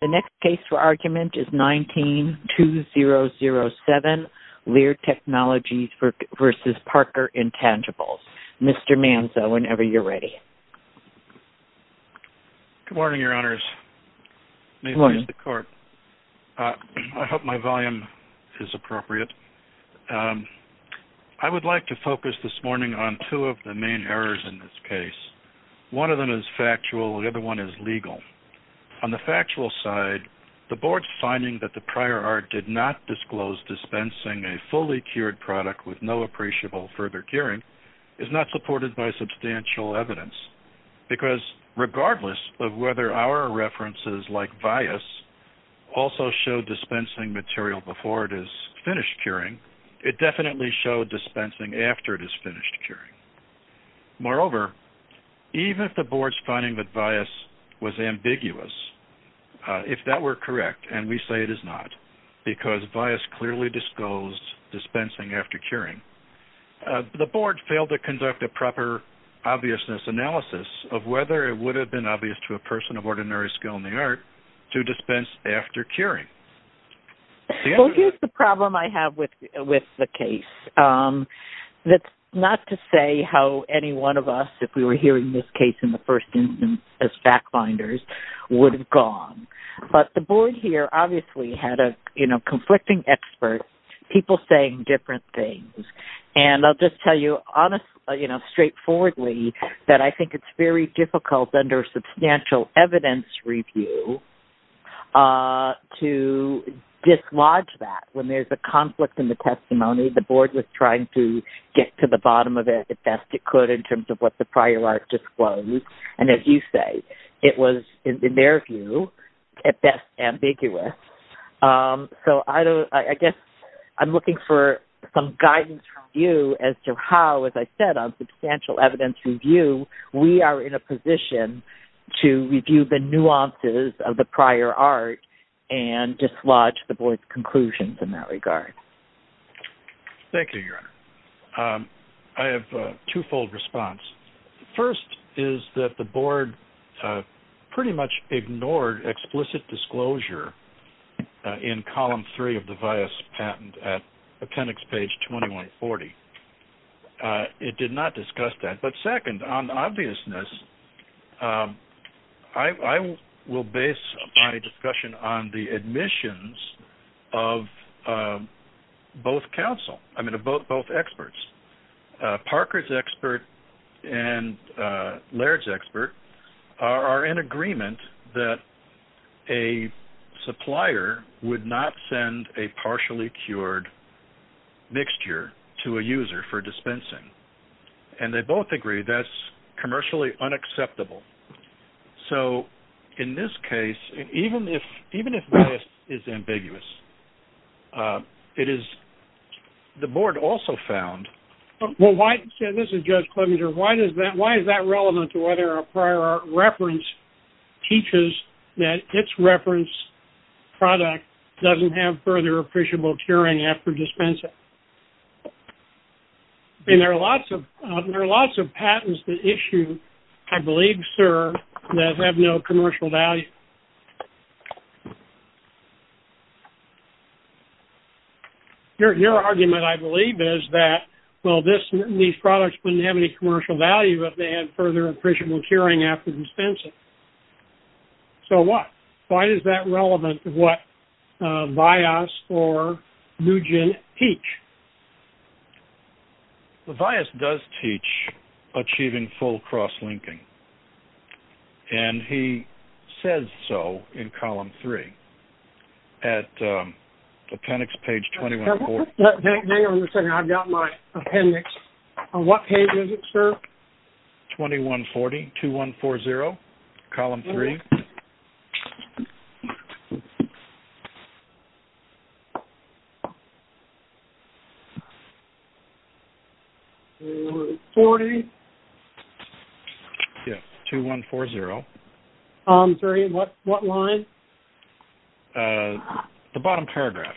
The next case for argument is 19-2007, Laird Technologies v. Parker Intangibles. Mr. Manzo, whenever you're ready. Good morning, Your Honors. Good morning. May it please the Court. I hope my volume is appropriate. I would like to focus this morning on two of the main errors in this case. One of them is factual, the other one is legal. On the factual side, the Board's finding that the prior art did not disclose dispensing a fully cured product with no appreciable further curing is not supported by substantial evidence. Because regardless of whether our references, like Vias, also show dispensing material before it is finished curing, it definitely showed dispensing after it is finished curing. Moreover, even if the Board's finding that Vias was ambiguous, if that were correct, and we say it is not, because Vias clearly disclosed dispensing after curing, the Board failed to conduct a proper obviousness analysis of whether it would have been obvious to a person of ordinary skill in the art to dispense after curing. Well, here's the problem I have with the case. That's not to say how any one of us, if we were hearing this case in the first instance as backbinders, would have gone. But the Board here obviously had a conflicting expert, people saying different things. And I'll just tell you straightforwardly that I think it's very difficult under substantial evidence review to dislodge that. When there's a conflict in the testimony, the Board was trying to get to the bottom of it the best it could in terms of what the prior art disclosed. And as you say, it was, in their view, at best, ambiguous. So I guess I'm looking for some guidance from you as to how, as I said, on substantial evidence review, we are in a position to review the nuances of the prior art and dislodge the Board's conclusions in that regard. Thank you, Your Honor. I have a twofold response. First is that the Board pretty much ignored explicit disclosure in Column 3 of the Vias Patent at Appendix Page 2140. It did not discuss that. But second, on obviousness, I will base my discussion on the admissions of both counsel, I mean of both experts. Parker's expert and Laird's expert are in agreement that a supplier would not send a partially cured mixture to a user for dispensing. And they both agree that's commercially unacceptable. So in this case, even if Vias is ambiguous, it is, the Board also found... Well, this is Judge Clementer. Why is that relevant to whether a prior art reference teaches that its reference product doesn't have further appreciable curing after dispensing? And there are lots of patents that issue, I believe, sir, that have no commercial value. Your argument, I believe, is that, well, these products wouldn't have any commercial value if they had further appreciable curing after dispensing. So what? Why is that relevant to what Vias or NUGEN teach? Vias does teach achieving full cross-linking. And he says so in Column 3 at Appendix Page 2140. Hang on a second, I've got my appendix. On what page is it, sir? 2140, 2140, Column 3. Okay. 2140. Yes, 2140. Column 3, what line? The bottom paragraph.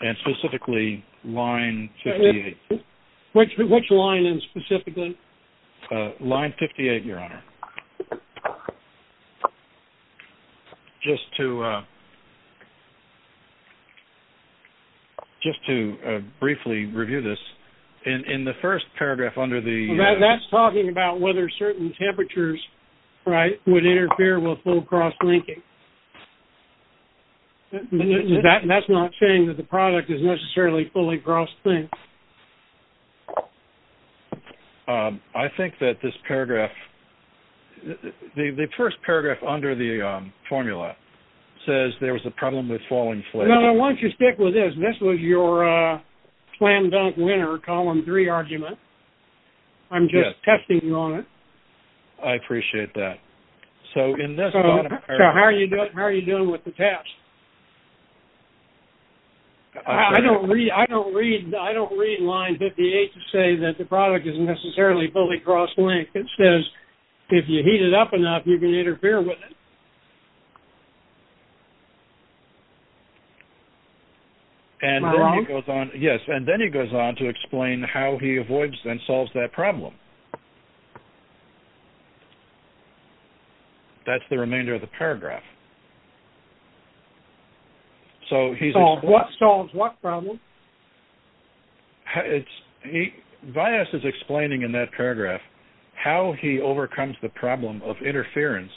And specifically, line 58. Which line, specifically? Line 58, Your Honor. Just to... Just to briefly review this, in the first paragraph under the... That's talking about whether certain temperatures, right, would interfere with full cross-linking. That's not saying that the product is necessarily fully cross-linked. I think that this paragraph... The first paragraph under the formula says there was a problem with falling flakes. No, no, why don't you stick with this? This was your slam-dunk winner, Column 3 argument. I'm just testing you on it. I appreciate that. So in this bottom paragraph... So how are you doing with the test? I don't read line 58 to say that the product is necessarily fully cross-linked. It says if you heat it up enough, you can interfere with it. Am I wrong? Yes, and then he goes on to explain how he avoids and solves that problem. That's the remainder of the paragraph. So he's... Solves what problem? Vyas is explaining in that paragraph how he overcomes the problem of interference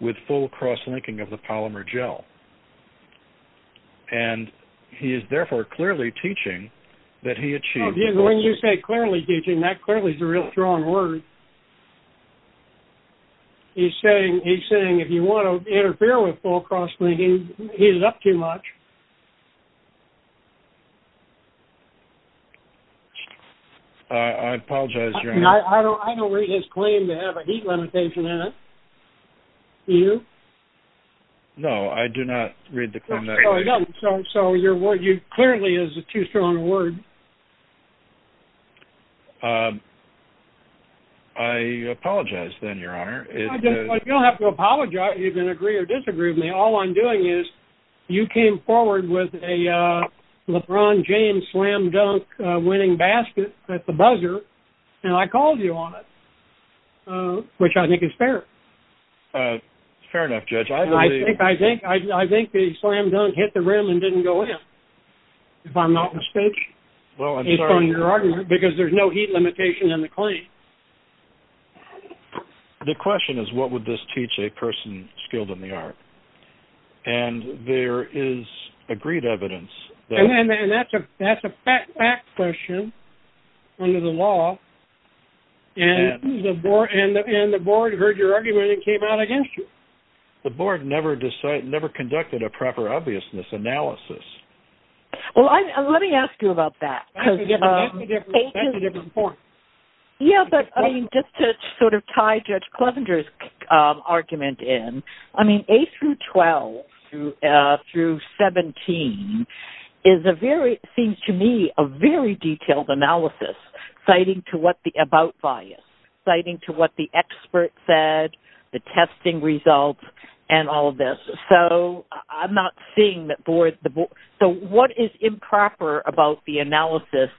with full cross-linking of the polymer gel. And he is therefore clearly teaching that he achieves... When you say clearly teaching, that clearly is a really strong word. He's saying if you want to interfere with full cross-linking, heat it up too much. I apologize. I don't read his claim to have a heat limitation in it. Do you? No, I do not read the claim that way. So your word clearly is a too strong a word. I apologize then, Your Honor. You don't have to apologize if you agree or disagree with me. All I'm doing is you came forward with a LeBron James slam dunk winning basket at the buzzer, and I called you on it, which I think is fair. Fair enough, Judge. I think the slam dunk hit the rim and didn't go in, if I'm not mistaken. Well, I'm sorry. Because there's no heat limitation in the claim. The question is what would this teach a person skilled in the art? And there is agreed evidence that... And that's a fact question under the law. And the board heard your argument and came out against you. The board never conducted a proper obviousness analysis. Well, let me ask you about that. Yeah, but I mean, just to sort of tie Judge Clevenger's argument in, I mean, A through 12 through 17 seems to me a very detailed analysis citing to what the about bias, citing to what the expert said, the testing results, and all of this. So I'm not seeing that board... So what is improper about the analysis,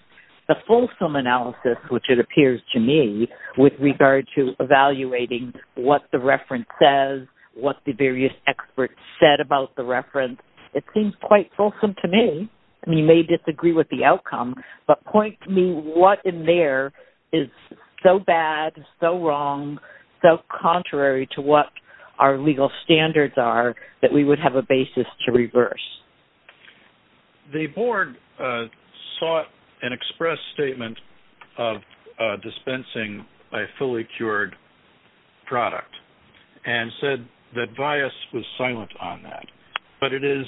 the fulsome analysis, which it appears to me, with regard to evaluating what the reference says, what the various experts said about the reference? It seems quite fulsome to me. And you may disagree with the outcome, but point to me what in there is so bad, so wrong, so contrary to what our legal standards are that we would have a basis to reverse. The board sought an express statement of dispensing a fully cured product and said that bias was silent on that. But it is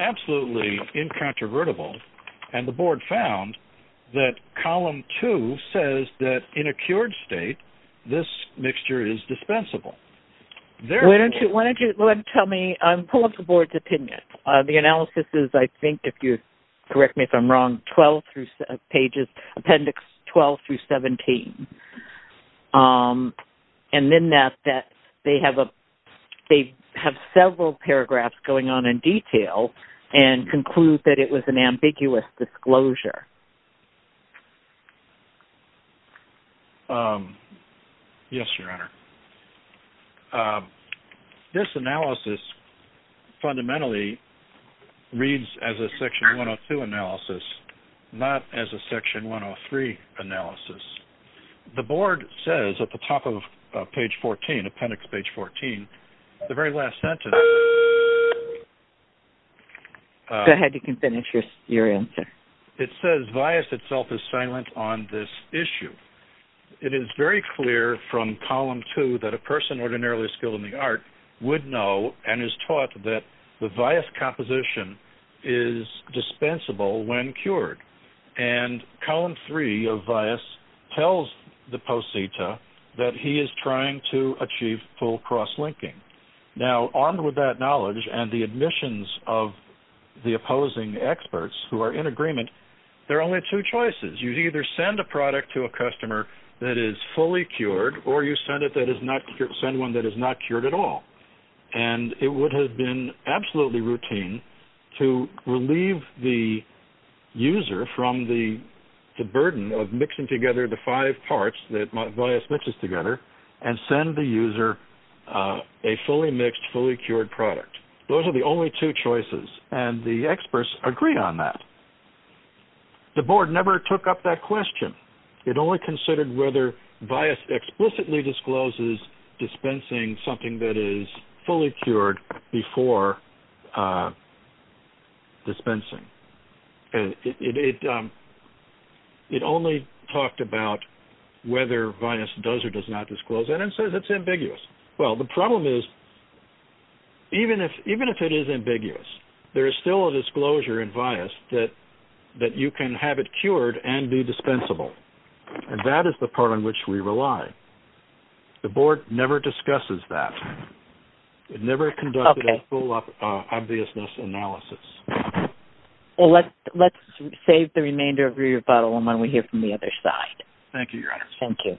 absolutely incontrovertible. And the board found that column two says that in a cured state, this mixture is dispensable. Why don't you tell me, pull up the board's opinion. The analysis is, I think, if you correct me if I'm wrong, 12 pages, appendix 12 through 17. And in that, they have several paragraphs going on in detail and conclude that it was an ambiguous disclosure. Yes, Your Honor. This analysis fundamentally reads as a section 102 analysis, not as a section 103 analysis. The board says at the top of page 14, appendix page 14, the very last sentence. Go ahead, you can finish your answer. It says bias itself is silent on this issue. It is very clear from column two that a person ordinarily skilled in the art would know and is taught that the bias composition is dispensable when cured. And column three of bias tells the poseta that he is trying to achieve full cross-linking. Now, armed with that knowledge and the admissions of the opposing experts who are in agreement, there are only two choices. You either send a product to a customer that is fully cured or you send one that is not cured at all. And it would have been absolutely routine to relieve the user from the burden of mixing together the five parts that bias mixes together and send the user a fully mixed, fully cured product. Those are the only two choices, and the experts agree on that. The board never took up that question. It only considered whether bias explicitly discloses dispensing something that is fully cured before dispensing. It only talked about whether bias does or does not disclose, and it says it's ambiguous. Well, the problem is even if it is ambiguous, there is still a disclosure in bias that you can have it cured and be dispensable. And that is the part on which we rely. The board never discusses that. It never conducted a full obviousness analysis. Well, let's save the remainder of your rebuttal until we hear from the other side. Thank you, Your Honors. Thank you.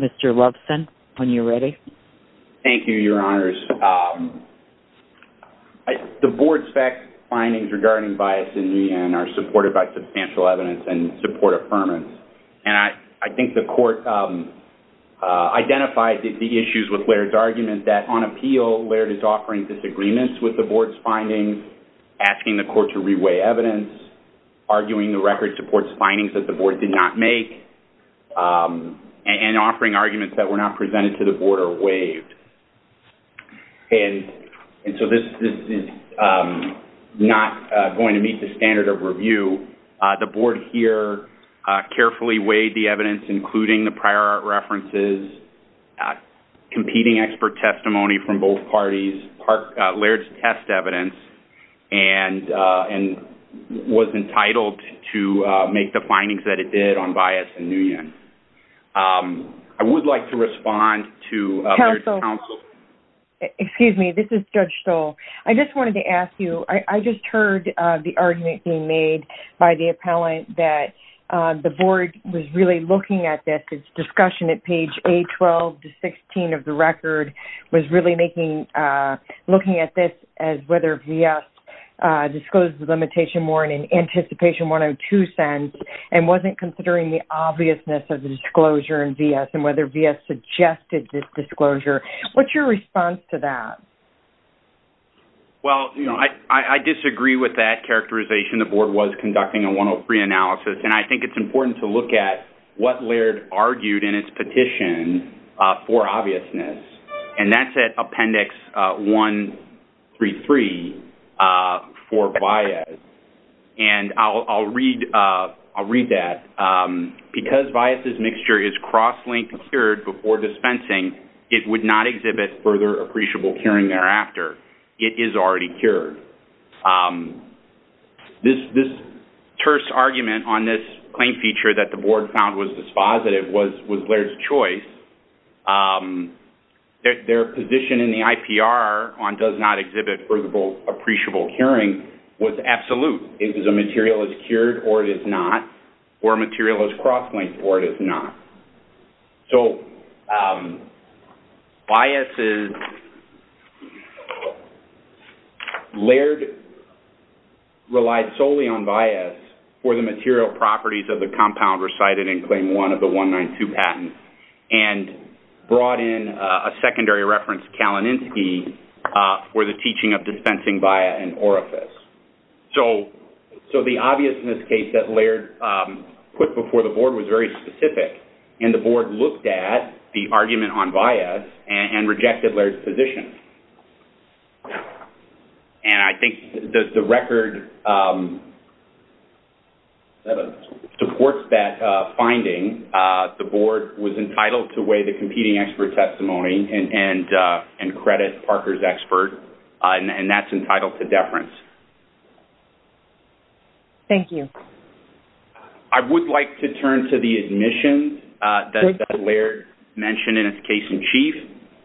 Mr. Loveson, when you're ready. Thank you, Your Honors. The board's fact findings regarding bias in EIN are supported by substantial evidence and support affirmance. And I think the court identified the issues with Laird's argument that on appeal, Laird is offering disagreements with the board's findings, asking the court to reweigh evidence, arguing the record supports findings that the board did not make, and offering arguments that were not presented to the board or waived. And so this is not going to meet the standard of review. The board here carefully weighed the evidence, including the prior art references, competing expert testimony from both parties, Laird's test evidence, and was entitled to make the findings that it did on bias in Nguyen. I would like to respond to Laird's counsel. Excuse me. This is Judge Stoll. I just wanted to ask you, I just heard the argument being made by the appellant that the board was really looking at this discussion at page A12 to 16 of the record, was really looking at this as whether VF disclosed the limitation more in an anticipation 102 sense and wasn't considering the obviousness of the disclosure in VF and whether VF suggested this disclosure. What's your response to that? Well, you know, I disagree with that characterization. The board was conducting a 103 analysis, and I think it's important to look at what Laird argued in its petition for obviousness, and that's at appendix 133 for bias. And I'll read that. Because bias's mixture is cross-linked and cured before dispensing, it would not exhibit further appreciable curing thereafter. It is already cured. This terse argument on this claim feature that the board found was dispositive was Laird's choice. Their position in the IPR on does not exhibit further appreciable curing was absolute. It was a material is cured or it is not, or a material is cross-linked or it is not. So bias is... Laird relied solely on bias for the material properties of the compound recited in claim 1 of the 192 patent, and brought in a secondary reference, Kalaninsky, for the teaching of dispensing via an orifice. So the obviousness case that Laird put before the board was very specific, and the board looked at the argument on bias and rejected Laird's position. And I think the record supports that finding. The board was entitled to weigh the competing expert testimony and credit Parker's expert, and that's entitled to deference. Thank you. I would like to turn to the admissions that Laird mentioned in its case in chief,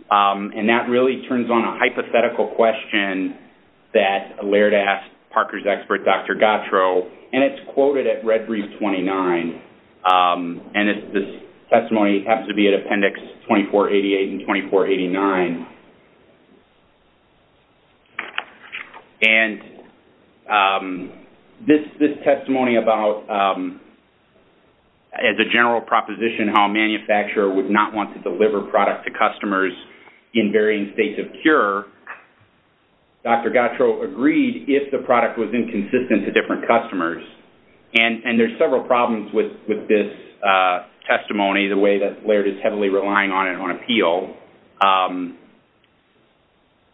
and that really turns on a hypothetical question that Laird asked Parker's expert, Dr. Gattro, and it's quoted at red brief 29, and this testimony happens to be at appendix 2488 and 2489. And this testimony about, as a general proposition, how a manufacturer would not want to deliver product to customers in varying states of cure, Dr. Gattro agreed if the product was inconsistent to different customers. And there's several problems with this testimony, the way that Laird is heavily relying on it on appeal.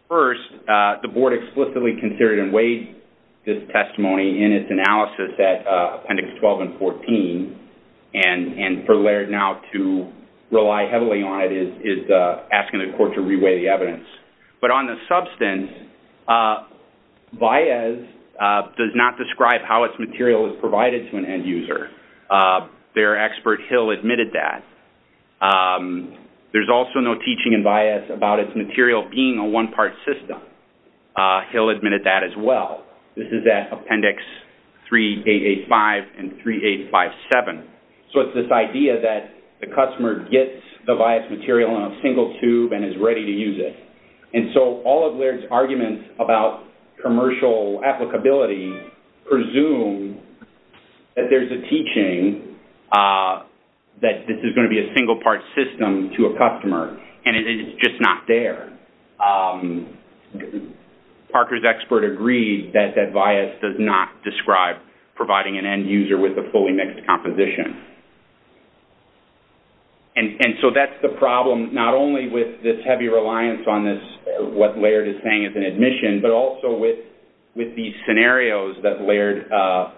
First, the board explicitly considered and weighed this testimony in its analysis at appendix 12 and 14, and for Laird now to rely heavily on it is asking the court to re-weigh the evidence. But on the substance, bias does not describe how its material is provided to an end user. Their expert, Hill, admitted that. There's also no teaching in bias about its material being a one-part system. Hill admitted that as well. This is at appendix 3885 and 3857. So it's this idea that the customer gets the biased material in a single tube and is ready to use it. And so all of Laird's arguments about commercial applicability presume that there's a teaching that this is going to be a single-part system to a customer, and it's just not there. Parker's expert agreed that that bias does not describe providing an end user with a fully mixed composition. And so that's the problem, not only with this heavy reliance on what Laird is saying as an admission, but also with these scenarios that Laird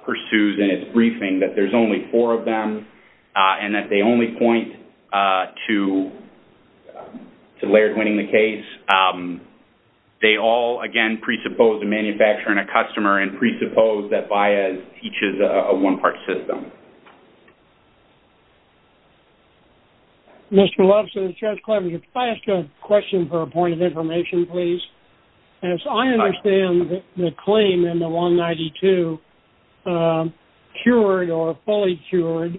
pursues in its briefing, that there's only four of them and that they only point to Laird winning the case. They all, again, presuppose a manufacturer and a customer and presuppose that bias teaches a one-part system. Mr. Lobson, this is Jeff Clever. Could I ask a question for a point of information, please? As I understand the claim in the 192, cured or fully cured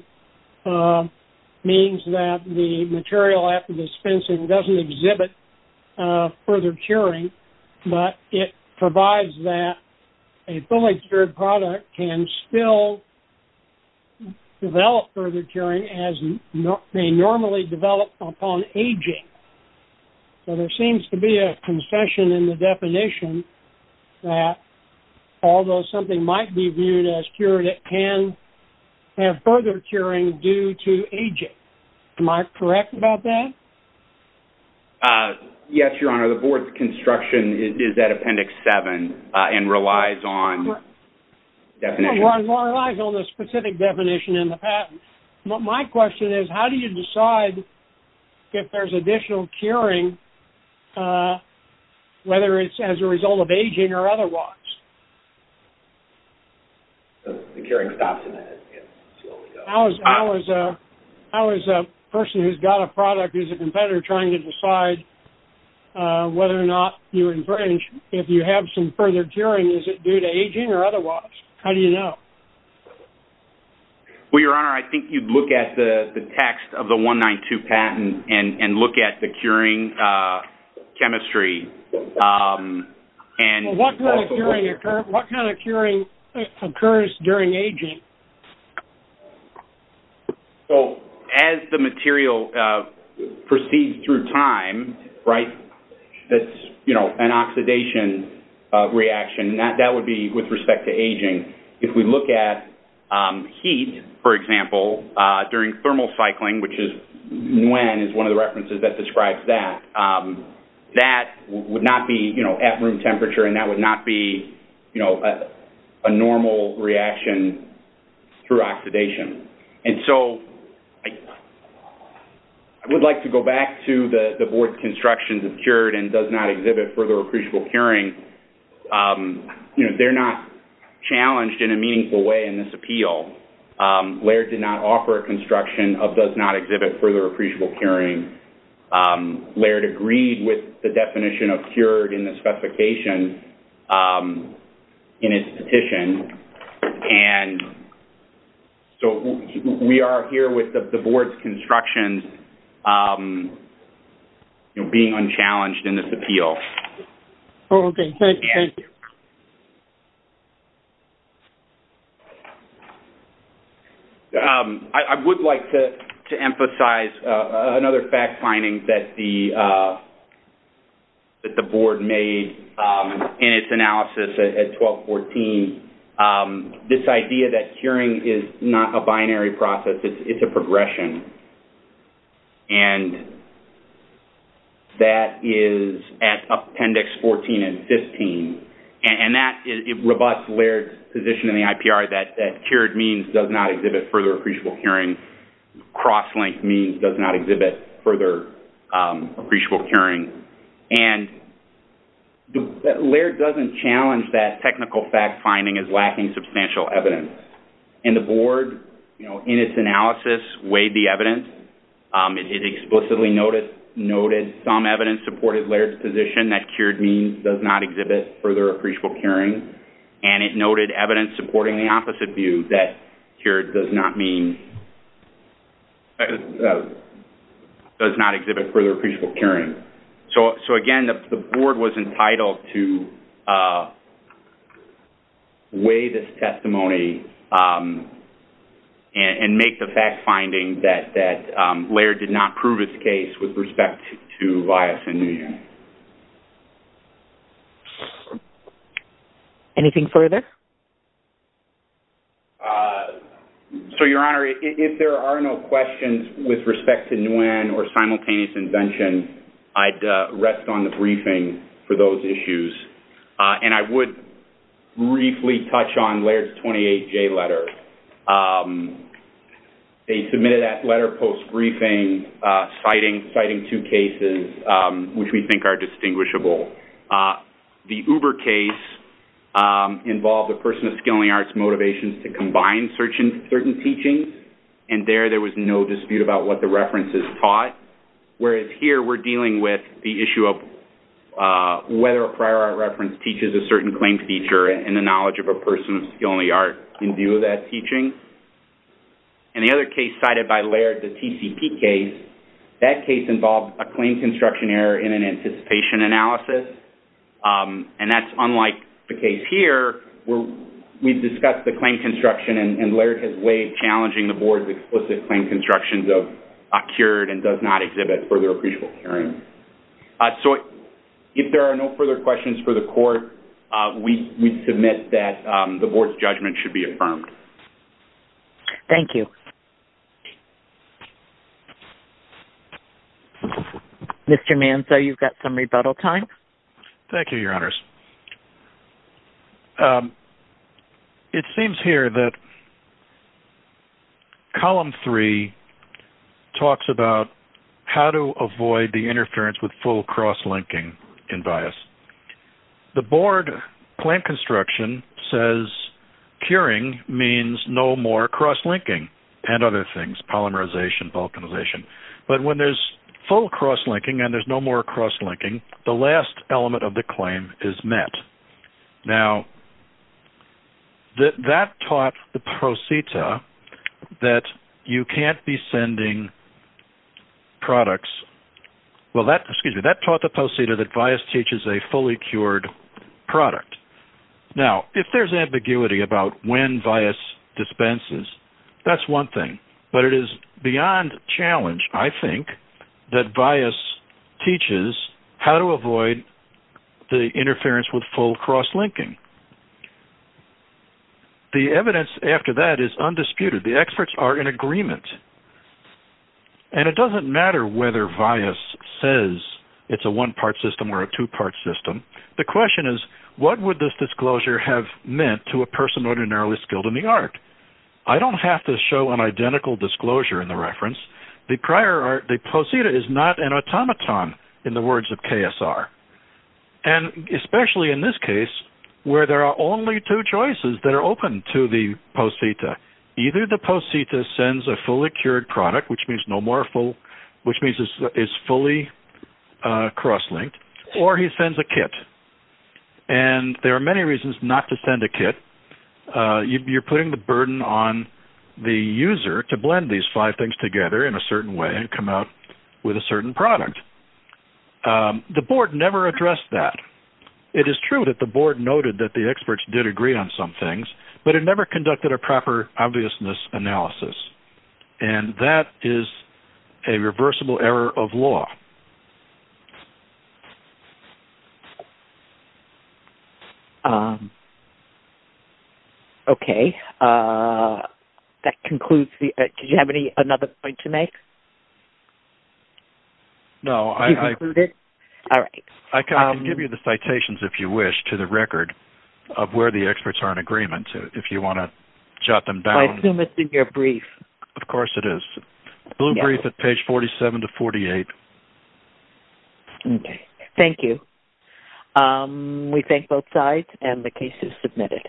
means that the material after dispensing doesn't exhibit further curing, but it provides that a fully cured product can still develop further curing as they normally develop upon aging. So there seems to be a concession in the definition that although something might be viewed as cured, it can have further curing due to aging. Am I correct about that? Yes, Your Honor. The board's construction is at Appendix 7 and relies on definition. My question is, how do you decide if there's additional curing, whether it's as a result of aging or otherwise? How is a person who's got a product who's a competitor trying to decide whether or not if you have some further curing, is it due to aging or otherwise? How do you know? Well, Your Honor, I think you'd look at the text of the 192 patent and look at the curing chemistry. What kind of curing occurs during aging? As the material proceeds through time, right, it's an oxidation reaction. That would be with respect to aging. If we look at heat, for example, during thermal cycling, which Nguyen is one of the references that describes that, that would not be at room temperature and that would not be a normal reaction through oxidation. And so I would like to go back to the board's construction of cured and does not exhibit further appreciable curing. You know, they're not challenged in a meaningful way in this appeal. Laird did not offer a construction of does not exhibit further appreciable curing. Laird agreed with the definition of cured in the specification in its petition. And so we are here with the board's construction being unchallenged in this appeal. Okay. Thank you. Thank you. I would like to emphasize another fact finding that the board made in its analysis at 1214. This idea that curing is not a binary process, it's a progression. And that is at appendix 14 and 15. And that is robust Laird's position in the IPR that cured means does not exhibit further appreciable curing. Cross-linked means does not exhibit further appreciable curing. And Laird doesn't challenge that technical fact finding as lacking substantial evidence. And the board, you know, in its analysis weighed the evidence. It explicitly noted some evidence supported Laird's position that cured means does not exhibit further appreciable curing. And it noted evidence supporting the opposite view that cured does not mean does not exhibit further appreciable curing. So again, the board was entitled to weigh this testimony and make the fact finding that Laird did not prove his case with respect to bias in Nguyen. Anything further? So, Your Honor, if there are no questions with respect to Nguyen or simultaneous invention, I'd rest on the briefing for those issues. And I would briefly touch on Laird's 28J letter. They submitted that letter post-briefing citing two cases which we think are distinguishable. The Uber case involved a person of skill and the arts' motivations to combine certain teachings. And there, there was no dispute about what the reference is taught. Whereas here, we're dealing with the issue of whether a prior art reference teaches a certain claim feature and the knowledge of a person of skill and the art in view of that teaching. And the other case cited by Laird, the TCP case, that case involved a claim construction error in an anticipation analysis. And that's unlike the case here where we've discussed the claim construction and Laird has weighed challenging the board's explicit claim construction of a cured and does not exhibit further appreciable curing. So, if there are no further questions for the court, we submit that the board's judgment should be affirmed. Thank you. Mr. Manzo, you've got some rebuttal time. Thank you, Your Honors. It seems here that column three talks about how to avoid the interference with full cross-linking in bias. The board claim construction says curing means no more cross-linking and other things, polymerization, vulcanization. But when there's full cross-linking and there's no more cross-linking, the last element of the claim is met. Now, that taught the procita that you can't be sending products. Well, excuse me, that taught the procita that bias teaches a fully cured product. Now, if there's ambiguity about when bias dispenses, that's one thing. But it is beyond challenge, I think, that bias teaches how to avoid the interference with full cross-linking. The evidence after that is undisputed. The experts are in agreement. And it doesn't matter whether bias says it's a one-part system or a two-part system. The question is, what would this disclosure have meant to a person ordinarily skilled in the art? I don't have to show an identical disclosure in the reference. The procita is not an automaton in the words of KSR. And especially in this case, where there are only two choices that are open to the procita. Either the procita sends a fully cured product, which means no more full, which means it's fully cross-linked, or he sends a kit. And there are many reasons not to send a kit. You're putting the burden on the user to blend these five things together in a certain way and come out with a certain product. The board never addressed that. It is true that the board noted that the experts did agree on some things, but it never conducted a proper obviousness analysis. And that is a reversible error of law. Okay. That concludes. Did you have another point to make? No. You concluded? All right. I can give you the citations, if you wish, to the record of where the experts are in agreement, if you want to jot them down. I assume it's in your brief. Of course it is. Blue brief at page 47 to 48. Okay. Thank you. We thank both sides and the case is submitted.